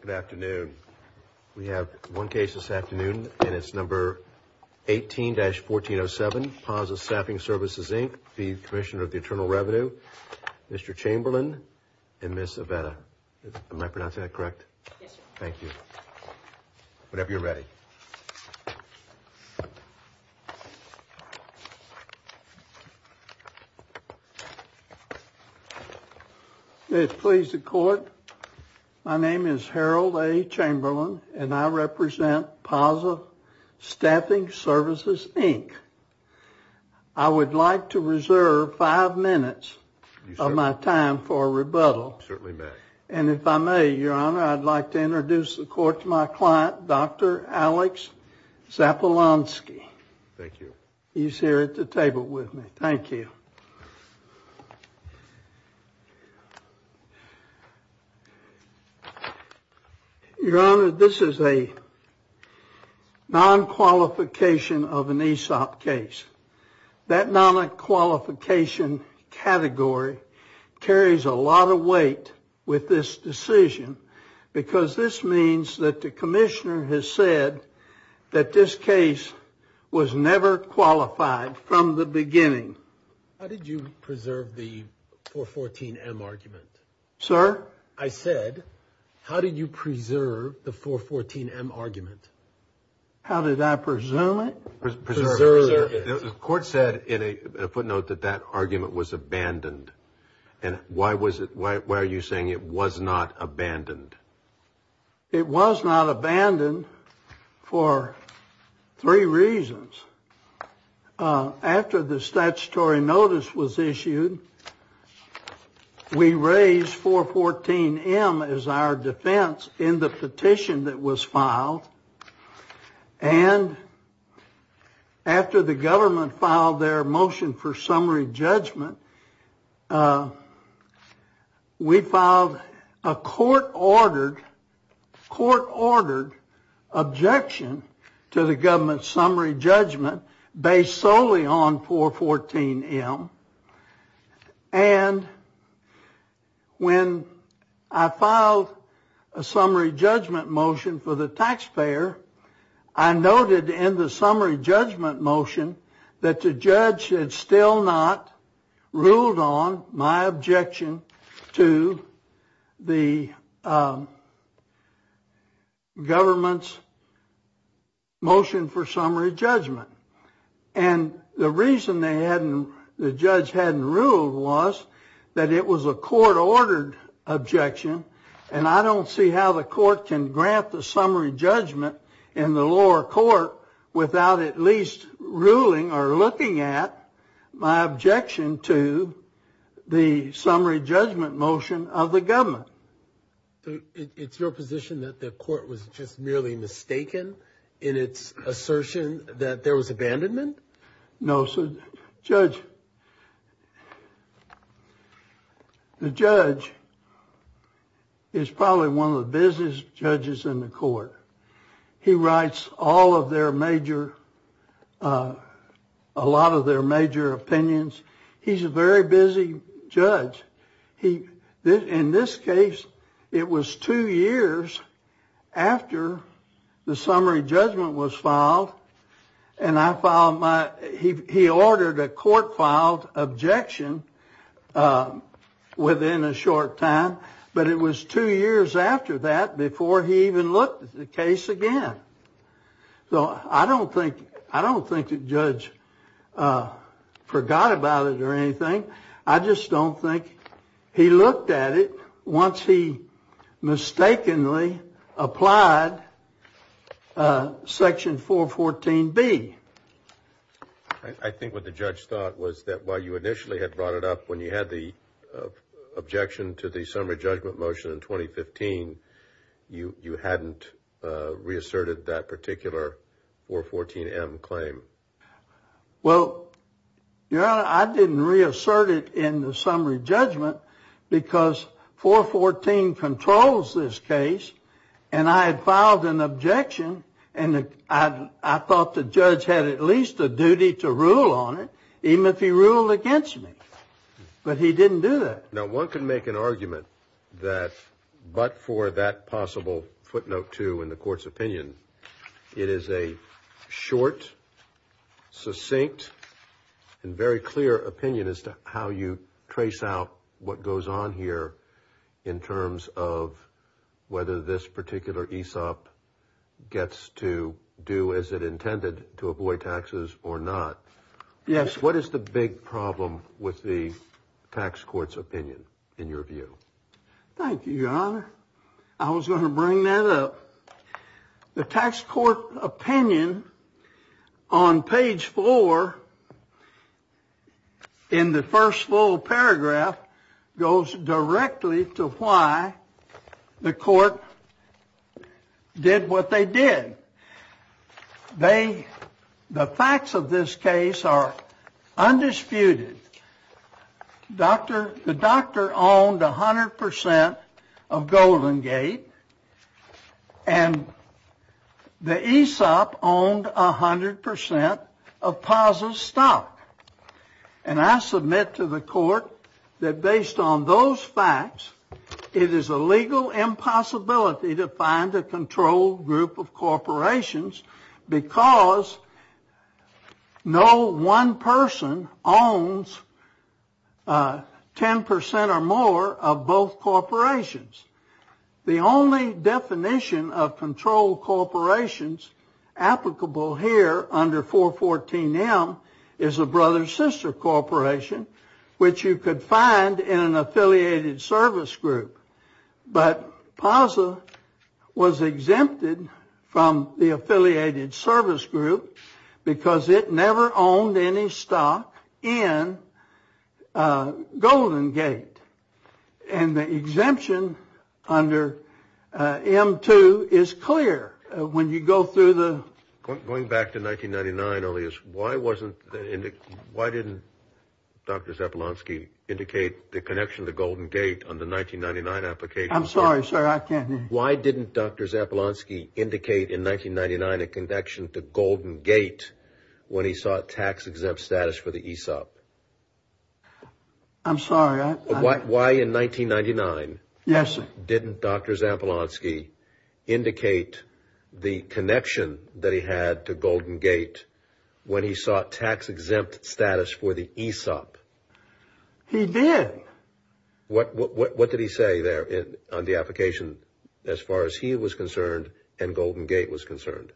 Good afternoon. We have one case this afternoon and it's number 18-1407 Paza Staffing Services, Inc. v. Commissioner of the Internal Revenue. Mr. Chamberlain and Ms. Avetta. Am I pronouncing that correct? Yes, sir. Thank you. Whenever you're ready. May it please the Court. My name is Harold A. Chamberlain and I represent Paza Staffing Services, Inc. I would like to reserve five minutes of my time for rebuttal. Certainly, Mr. Zapolanski. Thank you. He's here at the table with me. Thank you. Your Honor, this is a non-qualification of an ESOP case. That non-qualification category carries a lot of weight with this decision because this means that the Commissioner has said that this case was never qualified from the beginning. How did you preserve the 414-M argument? Sir? I said, how did you preserve the 414-M argument? How did I presume it? The Court said in a footnote that that argument was abandoned. Why are you saying it was not abandoned? It was not abandoned for three reasons. After the statutory notice was issued, we raised 414-M as our defense in the petition that was filed. And after the government filed their motion for summary judgment, we filed a court-ordered objection to the government's summary judgment based solely on and when I filed a summary judgment motion for the taxpayer, I noted in the summary judgment motion that the judge had still not ruled on my objection to the government's motion for summary judgment. And the reason the judge hadn't ruled was that it was a court-ordered objection, and I don't see how the court can grant the summary judgment in the lower court without at least ruling or looking at my objection to the summary judgment motion of the assertion that there was abandonment? No, sir. Judge, the judge is probably one of the busiest judges in the court. He writes all of their major, a lot of their major opinions. He's a very busy judge. In this case, it was two years after the summary judgment was filed, and he ordered a court-filed objection within a short time, but it was two years after that before he even looked at the case again. So I don't think the judge forgot about it or anything. I just don't think he looked at it once he mistakenly applied Section 414B. I think what the judge thought was that while you initially had brought it up when you had the objection to the summary judgment motion in 2015, you hadn't reasserted that particular 414M claim. Well, Your Honor, I didn't reassert it in the sense that Section 414 controls this case, and I had filed an objection, and I thought the judge had at least a duty to rule on it, even if he ruled against me. But he didn't do that. Now, one can make an argument that but for that possible footnote 2 in the court's opinion, it is a short, succinct, and very clear opinion as to how you trace out what goes on here in terms of whether this particular ESOP gets to do as it intended to avoid taxes or not. Yes. What is the big problem with the tax court's opinion, in your view? Thank you, Your Honor. I was going to bring that up. The tax court opinion on page 4 in the first full paragraph goes directly to why the court did what they did. The facts of this case are undisputed. The doctor owned 100% of Golden Gate, and the ESOP owned 100% of Paz's stock. And I submit to the court that based on those facts, it is a legal impossibility to find a controlled group of corporations because no one person owns 10% or more of both corporations. The only definition of controlled corporations applicable here under 414M is a brother-sister corporation, which you could find in an affiliated service group. But Paz was exempted from the affiliated service group because it never owned any stock in Golden Gate. And the exemption under M2 is clear. Going back to 1999, why didn't Dr. Zepelonsky indicate the connection to Golden Gate on the 1999 application? I'm sorry, sir, I can't hear you. Why didn't Dr. Zepelonsky indicate in 1999 a connection to Golden Gate when he sought tax-exempt status for the ESOP? I'm sorry. Why in 1999 didn't Dr. Zepelonsky indicate the connection that he had to Golden Gate when he sought tax-exempt status for the ESOP? He did. What did he say there on the application as far as he was concerned and Golden Gate was concerned?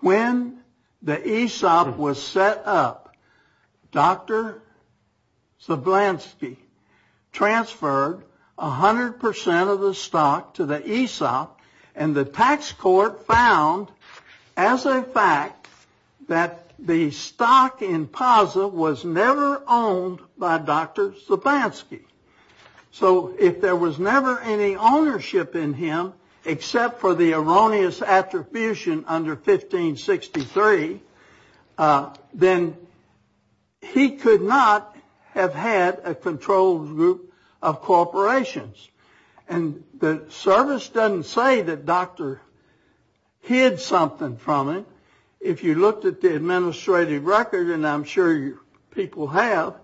When the ESOP was set up, Dr. Zepelonsky transferred 100% of the stock to the ESOP and the tax court found as a fact that the stock in Paz was never owned by Dr. Zepelonsky. So if there was never any ownership in him except for the erroneous attribution under 1563, then he could not have had a controlled group of corporations. And the service doesn't say that Dr. hid something from him. If you looked at the administrative record, and I'm sure people have,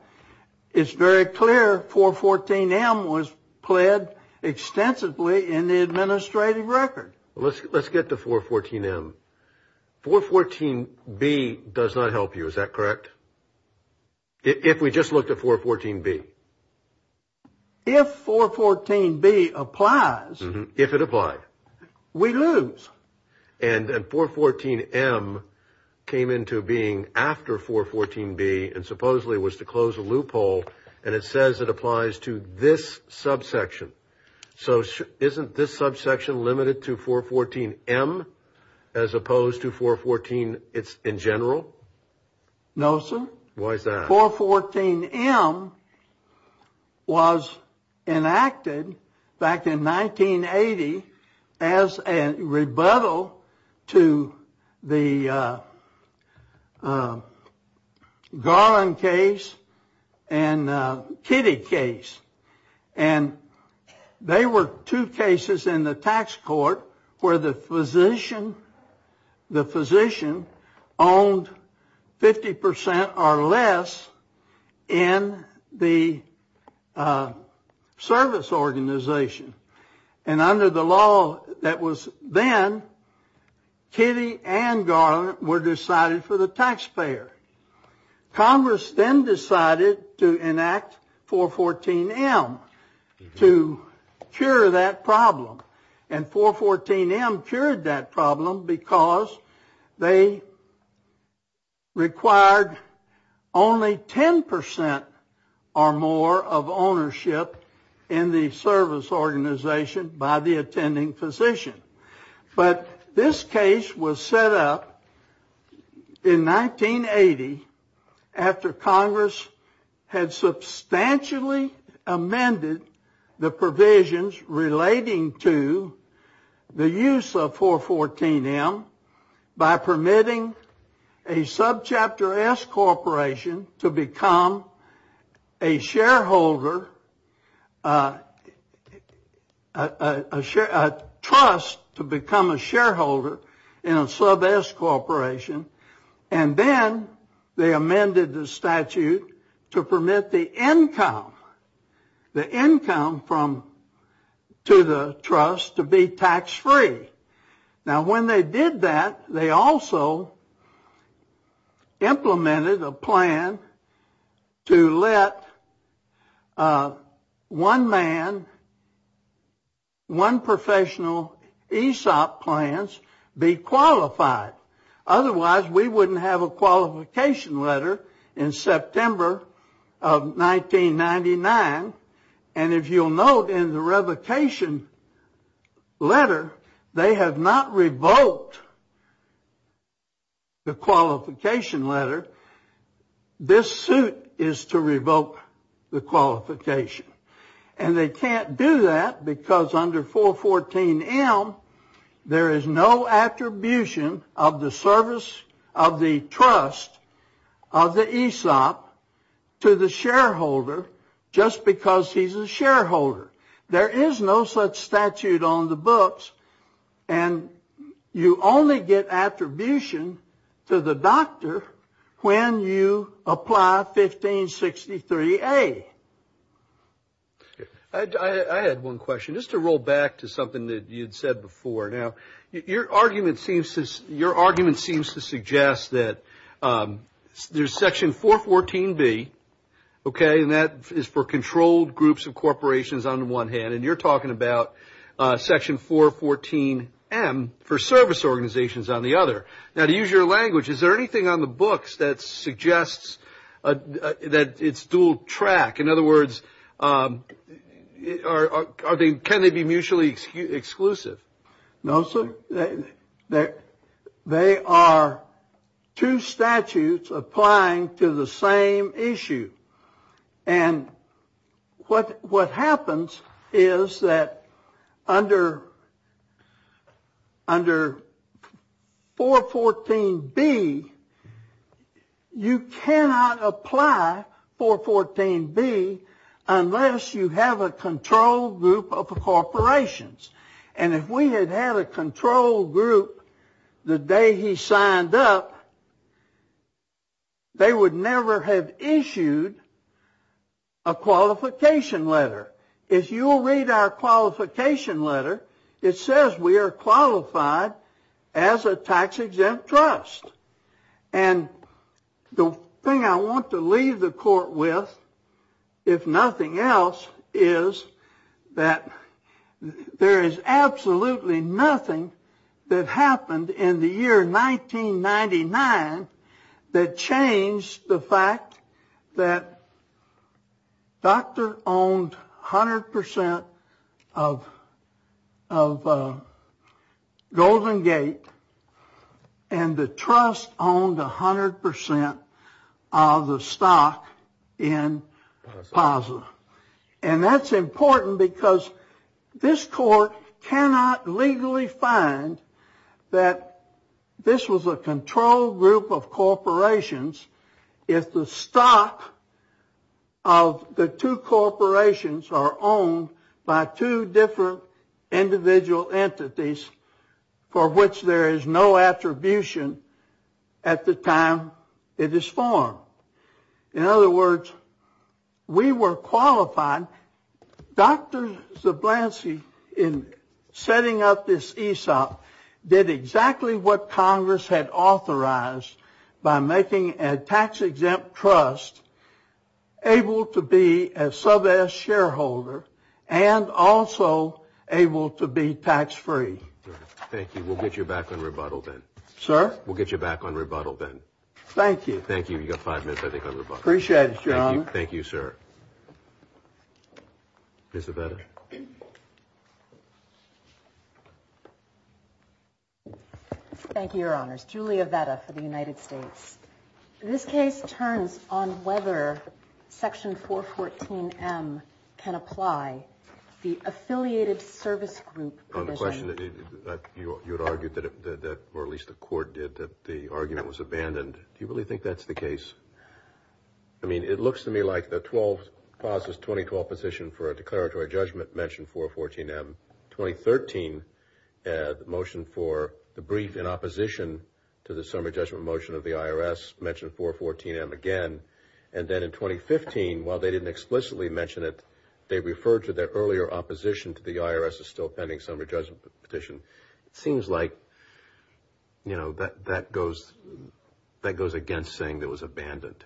it's very clear 414M was pled extensively in the administrative record. Let's get to 414M. 414B does not help you, is that correct? If we just looked at 414B? If 414B applies, we lose. And 414M came into being after 414B and supposedly was to close a loophole and it says it applies to this subsection. So isn't this subsection limited to 414M as opposed to 414 in general? No, sir. Why is that? 414M was enacted back in 1980 as a rebuttal to the Garland case and Kitty case. And they were two cases in the tax court where the physician owned 50% or less in the service organization. And under the law that was then, Kitty and Garland were decided for the taxpayer. Congress then decided to enact 414M to cure that problem. And 414M cured that problem because they required only 10% or more of ownership in the service organization by the attending physician. But this case was set up in 1980 after Congress had substantially amended the provisions relating to the use of 414M by permitting a subchapter S corporation to become a shareholder, a trust to become a shareholder in a sub S corporation. And then they amended the statute to permit the income, the income from to the trust to be tax free. Now when they did that, they also implemented a plan to let one man, one professional ESOP plans be qualified. Otherwise, we wouldn't have a qualification letter in September of 1999. And if you'll note in the revocation letter, they have not revoked the qualification letter. This suit is to revoke the qualification. And they can't do that because under 414M, there is no attribution of the service of the trust of the ESOP to the shareholder just because he's a shareholder. There is no such statute on the books. And you only get attribution to the doctor when you apply 1563A. I had one question. Just to roll back to something that you'd said before. Now, your argument seems to suggest that there's section 414B, okay, and that is for controlled groups of corporations on the one hand, and you're talking about section 414M for service organizations on the other. Now to use your language, is there anything on the books that suggests that it's dual track? In other words, can they be mutually exclusive? No, sir. They are two statutes applying to the same issue. And what happens is that under 414B, you cannot apply 414B unless you have a controlled group of corporations. And if we had had a controlled group the day he signed up, they would never have issued a qualification letter. If you'll read our qualification letter, it says we are qualified as a tax-exempt trust. And the thing I want to leave the court with, if nothing else, is that there is absolutely nothing that happened in the year 1999 that changed the fact that Dr. owned 100% of Golden Gate and the trust owned 100% of the stock in Plaza. And that's important because this court cannot legally find that this was a controlled group of corporations if the stock of the two corporations are owned by two different individual entities for which there is no attribution at the time it is formed. In other words, we were qualified. Dr. Zablansi, in setting up this ESOP, did exactly what Congress had authorized by making a tax-exempt trust able to be a sub-s shareholder and also able to be tax free. Thank you. We'll get you back on rebuttal then. Sir? We'll get you back on rebuttal then. Thank you. Thank you. You got five minutes, I think, on rebuttal. Appreciate it, John. Thank you, sir. Ms. Avetta? Thank you, Your Honors. Julia Avetta for the United States. This case turns on whether Section 414M can apply the Affiliated Service Group provision. You had argued that, or at least the court did, that the argument was abandoned. Do you really like the 2012 position for a declaratory judgment mentioned 414M? In 2013, the motion for the brief in opposition to the summary judgment motion of the IRS mentioned 414M again. And then in 2015, while they didn't explicitly mention it, they referred to their earlier opposition to the IRS as still pending summary judgment petition. It seems like that goes against saying it was abandoned.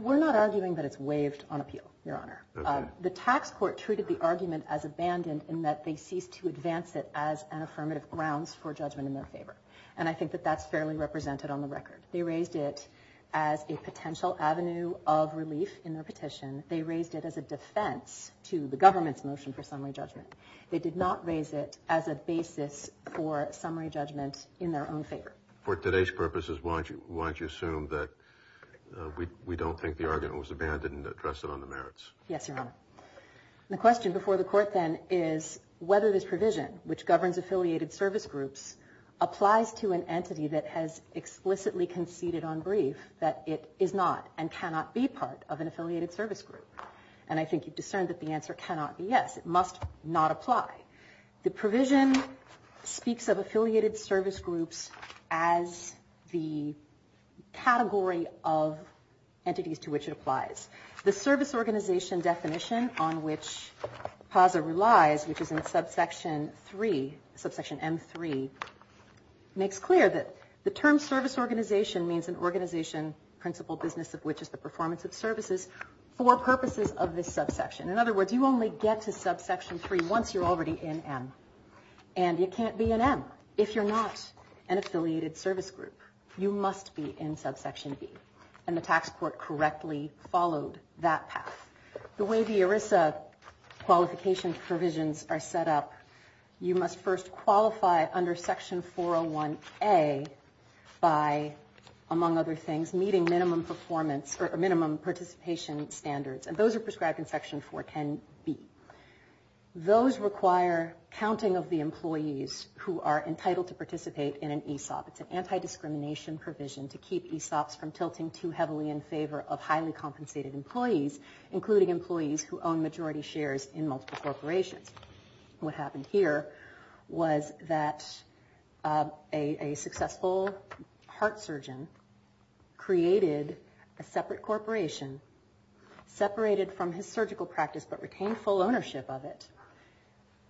We're not arguing that it's waived on appeal, Your Honor. The tax court treated the argument as abandoned in that they ceased to advance it as an affirmative grounds for judgment in their favor. And I think that that's fairly represented on the record. They raised it as a potential avenue of relief in their petition. They raised it as a defense to the government's motion for summary judgment. They did not raise it as a basis for summary judgment in their own favor. For today's purposes, why don't you assume that we don't think the argument was abandoned and address it on the merits? Yes, Your Honor. The question before the court then is whether this provision, which governs Affiliated Service Groups, applies to an entity that has explicitly conceded on brief that it is not and cannot be part of an Affiliated Service Group. And I think you've discerned that the answer cannot be yes. It must not apply. The provision speaks of the category of entities to which it applies. The service organization definition on which PASA relies, which is in subsection 3, subsection M3, makes clear that the term service organization means an organization, principal business of which is the performance of services, for purposes of this subsection. In other words, you only get to subsection 3 once you're already in M. And you can't be in M if you're not an Affiliated Service Group. You must be in subsection B. And the tax court correctly followed that path. The way the ERISA qualification provisions are set up, you must first qualify under section 401A by, among other things, meeting minimum performance or minimum participation standards. And those are prescribed in section 410B. Those require counting of the employees who are entitled to participate in an ESOP. It's an anti-discrimination provision to keep ESOPs from tilting too heavily in favor of highly compensated employees, including employees who own majority shares in multiple corporations. What happened here was that a successful heart surgeon created a separate corporation, separated from his surgical practice but retained full ownership of it,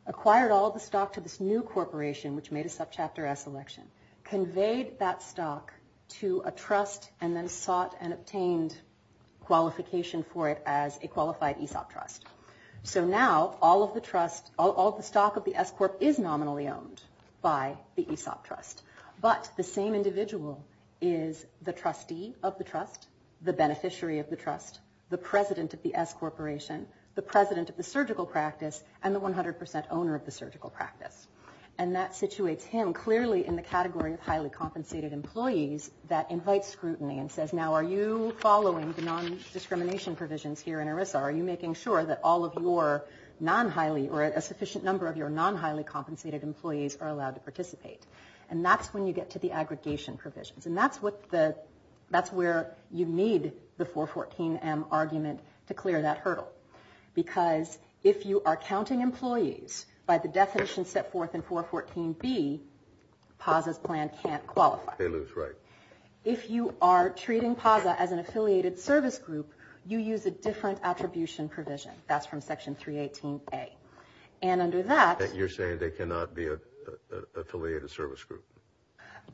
acquired all of the stock to this new corporation, which made a subchapter S election, conveyed that stock to a trust, and then sought and obtained qualification for it as a qualified ESOP trust. So now, all of the stock of the S Corp is nominally owned by the ESOP trust. But the same individual is the trustee of the trust, the beneficiary of the trust, the president of the S Corporation, the president of the surgical practice, and the 100% owner of the surgical practice. And that situates him clearly in the category of highly compensated employees that invites scrutiny and says, now, are you following the non-discrimination provisions here in ERISA? Are you making sure that all of your non-highly or a sufficient of your non-highly compensated employees are allowed to participate? And that's when you get to the aggregation provisions. And that's where you need the 414M argument to clear that hurdle. Because if you are counting employees by the definition set forth in 414B, PASA's plan can't qualify. If you are treating PASA as an affiliated service group, you use a different attribution provision. That's from Section 318A. And under that... And you're saying they cannot be an affiliated service group?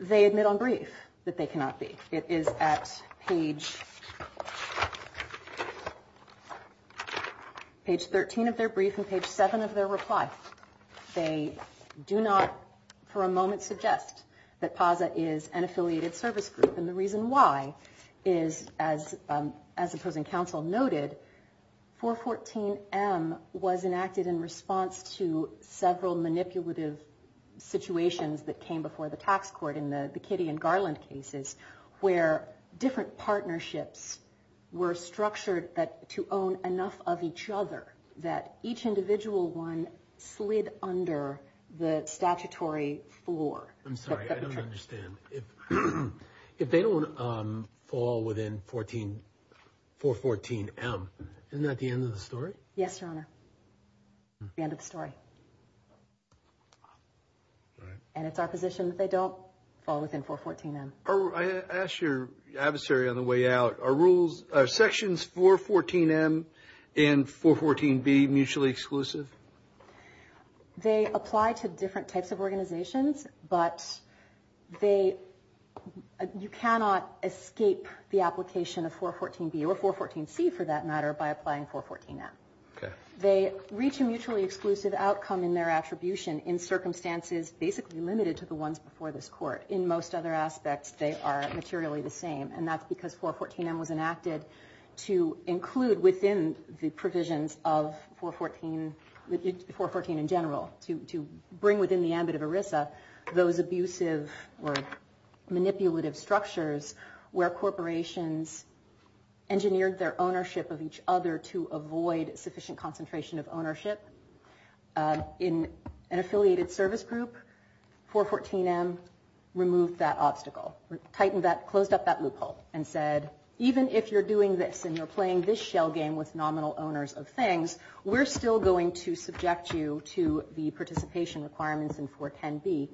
They admit on brief that they cannot be. It is at page 13 of their brief and page 7 of their reply. They do not, for a moment, suggest that PASA is an affiliated service group. And the reason why is, as opposing counsel noted, 414M was enacted in response to several manipulative situations that came before the tax court in the Kitty and Garland cases, where different partnerships were structured to own enough of each other that each individual one slid under the statutory floor. I'm sorry, I don't understand. If they don't fall within 414M, isn't that the end of the story? Yes, Your Honor. The end of the story. And it's our position that they don't fall within 414M. I asked your adversary on the way out. Are Sections 414M and 414B mutually exclusive? They apply to different types of organizations, but you cannot escape the application of 414B or 414C, for that matter, by applying 414M. They reach a mutually exclusive outcome in their attribution in circumstances basically limited to the ones before this Court. In most other aspects, they are materially the same. And that's because 414M was enacted to include within the provisions of 414, 414 in general, to bring within the ambit of ERISA those abusive or manipulative structures where corporations engineered their ownership of each other to avoid sufficient concentration of ownership. In an affiliated service group, 414M removed that obstacle, tightened that, closed up that loophole and said, even if you're doing this and you're playing this shell game with nominal owners of things, we're still going to subject you to the participation requirements in 410B.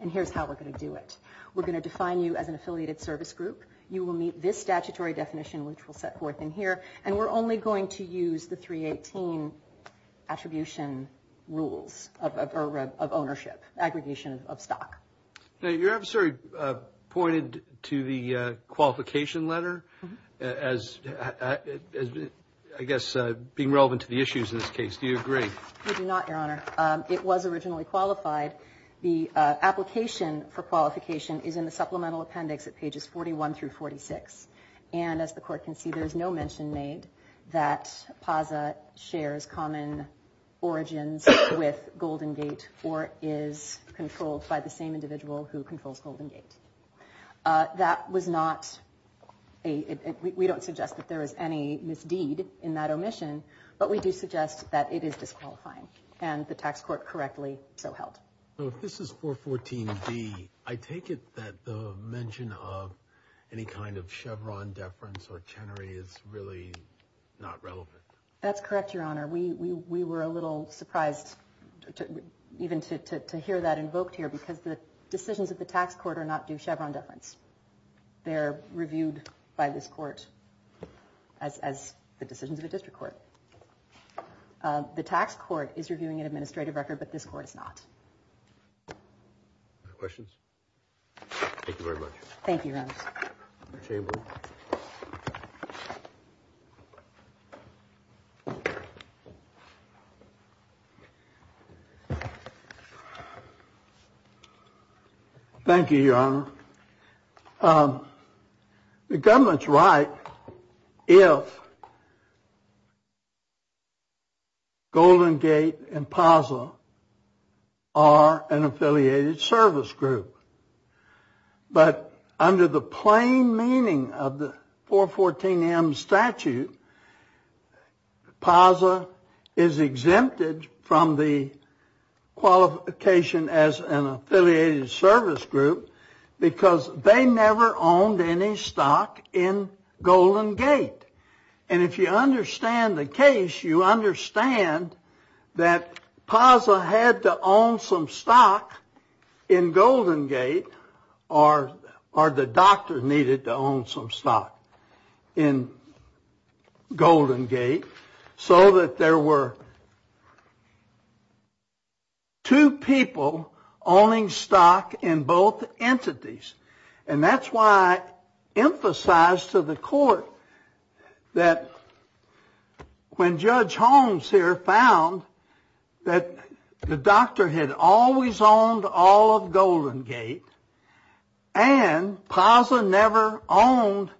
And here's how we're going to do it. We're going to define you as an affiliated service group. You will meet this statutory definition, which we'll set forth in here. And we're only going to use the 318 attribution rules of ownership, aggregation of stock. Now, your adversary pointed to the qualification letter as, I guess, being relevant to the issues in this case. Do you agree? I do not, Your Honor. It was originally qualified. The application for qualification is in the supplemental appendix at pages 41 through 46. And as the Court can see, there's no mention made that Pazza shares common origins with Golden Gate or is controlled by the same individual who controls Golden Gate. We don't suggest that there is any misdeed in that omission, but we do suggest that it is disqualifying. And the tax court correctly so held. So if this is 414B, I take it that the mention of any kind of Chevron deference or Chenery is really not relevant. That's correct, Your Honor. We were a little surprised even to hear that invoked here because the decisions of the tax court are not due Chevron deference. They're reviewed by this court as the decisions of a district court. The tax court is reviewing an administrative record, but this court is not. Any questions? Thank you very much. Thank you, Your Honor. Thank you, Your Honor. The government's right if Golden Gate and Pazza are an affiliated service group. But under the plain meaning of the 414M statute, Pazza is exempted from the qualification as an affiliated service group because they never owned any stock in Golden Gate. And if you understand the case, you understand that Pazza had to own some stock in Golden Gate, or the doctor needed to own some stock in Golden Gate, so that there were two people owning stock in both entities. And that's why I emphasized to the court that when Judge Holmes here found that the doctor had always owned all of Golden Gate and Pazza never owned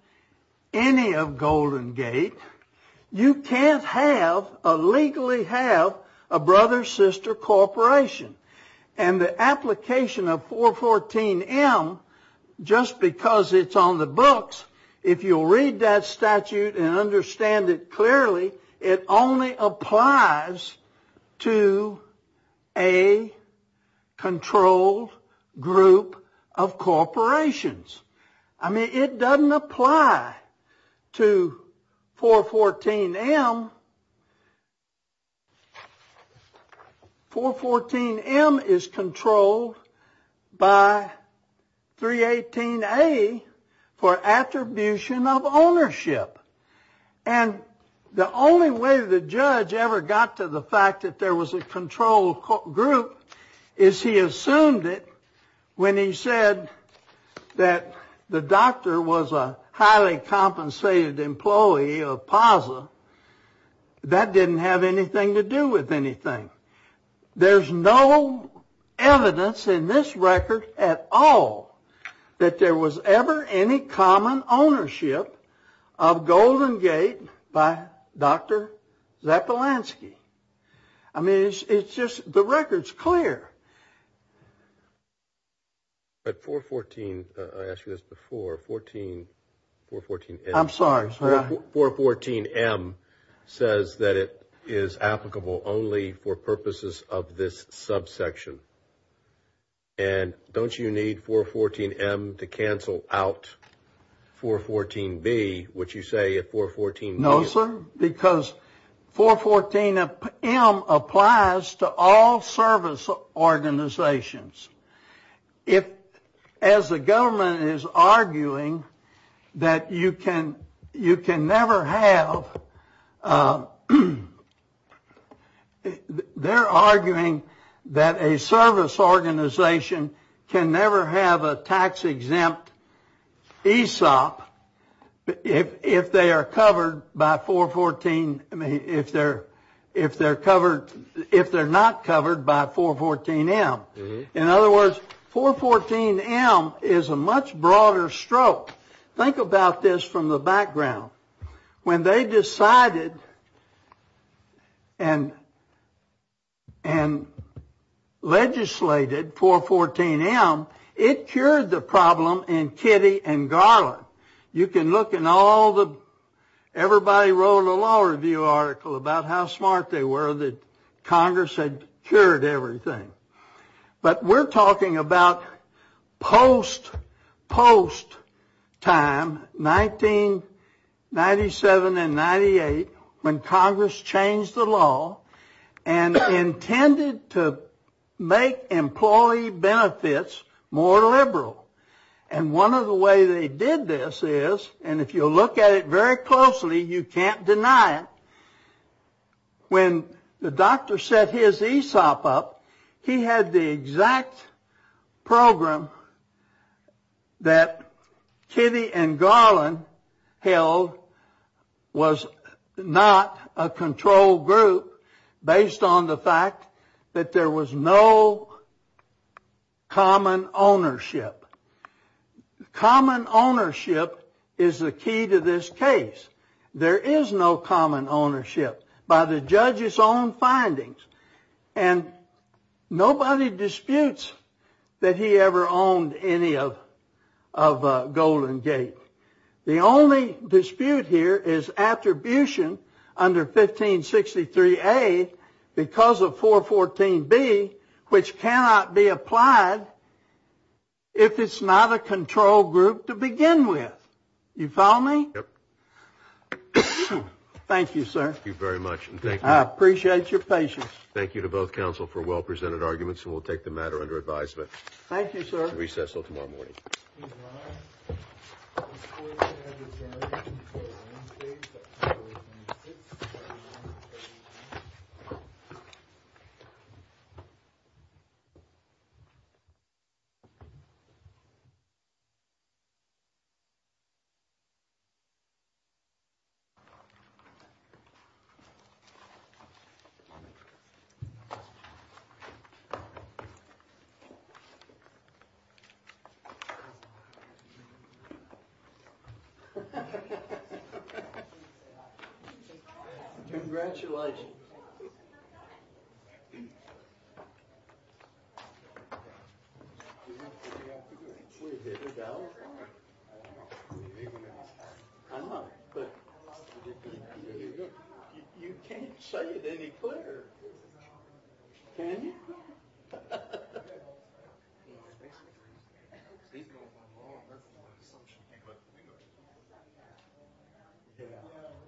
any of Golden Gate, you can't legally have a brother-sister corporation. And the application of 414M, just because it's on the books, if you'll read that statute and understand it clearly, it only applies to a controlled group of corporations. I mean, it doesn't apply to 414M. 414M is controlled by 318A for attribution of ownership. And the only way the judge ever got to the fact that there was a controlled group is he assumed it when he said that the doctor was a That didn't have anything to do with anything. There's no evidence in this record at all that there was ever any common ownership of Golden Gate by Dr. Zapolanski. I mean, it's just the record's But 414, I asked you this before, 414M. I'm sorry. 414M says that it is applicable only for purposes of this subsection. And don't you need 414M to cancel out 414B, which you say at 414B? Because 414M applies to all service organizations. As the government is arguing that you can never have They're arguing that a service organization can never have a tax-exempt ESOP if they are not covered by 414M. In other words, 414M is a much broader stroke. Think about this from the background. When they decided and legislated 414M, it cured the problem in Kitty and Garland. You can look in all the, everybody wrote a law review article about how smart they were that Congress had cured everything. But we're talking about post-time, 1997 and 1998, when Congress changed the law and intended to make employee benefits more liberal. And one of the ways they did this is, and if you look at it very closely, you can't deny it, when the doctor set his ESOP up, he had the exact program that Kitty and Garland held was not a control group based on the fact that there was no common ownership. Common ownership is the key to this case. There is no common ownership. By the judge's own findings. And nobody disputes that he ever owned any of Golden Gate. The only dispute here is attribution under 1563A because of 414B, which cannot be applied if it's not a control group to begin with. You follow me? Thank you, sir. Thank you very much. I appreciate your patience. Thank you to both counsel for well-presented arguments, and we'll take the matter under advisement. Thank you, sir. Recess until tomorrow morning.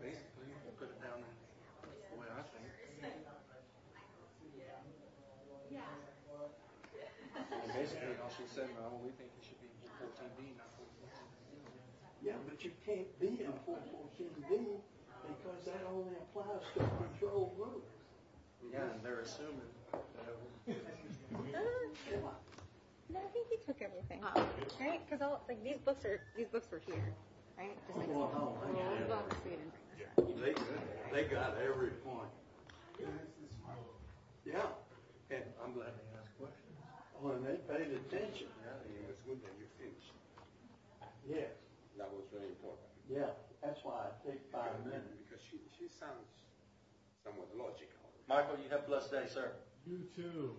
Basically, we'll put it down the way I think it should be. And basically, as she said, we think it should be 414B, not 414A. Yeah, but you can't be in a 414B because that only applies to a control group. Yeah, and they're assuming. No, I think he took everything. Right? Because these books were shared, right? Well, they got every point. Yeah, and I'm glad they asked questions. Oh, and they paid attention. Yeah, that was very important. Yeah, that's why I think 5 amendments. Because she sounds somewhat logical. Michael, you have a blessed day, sir. You too.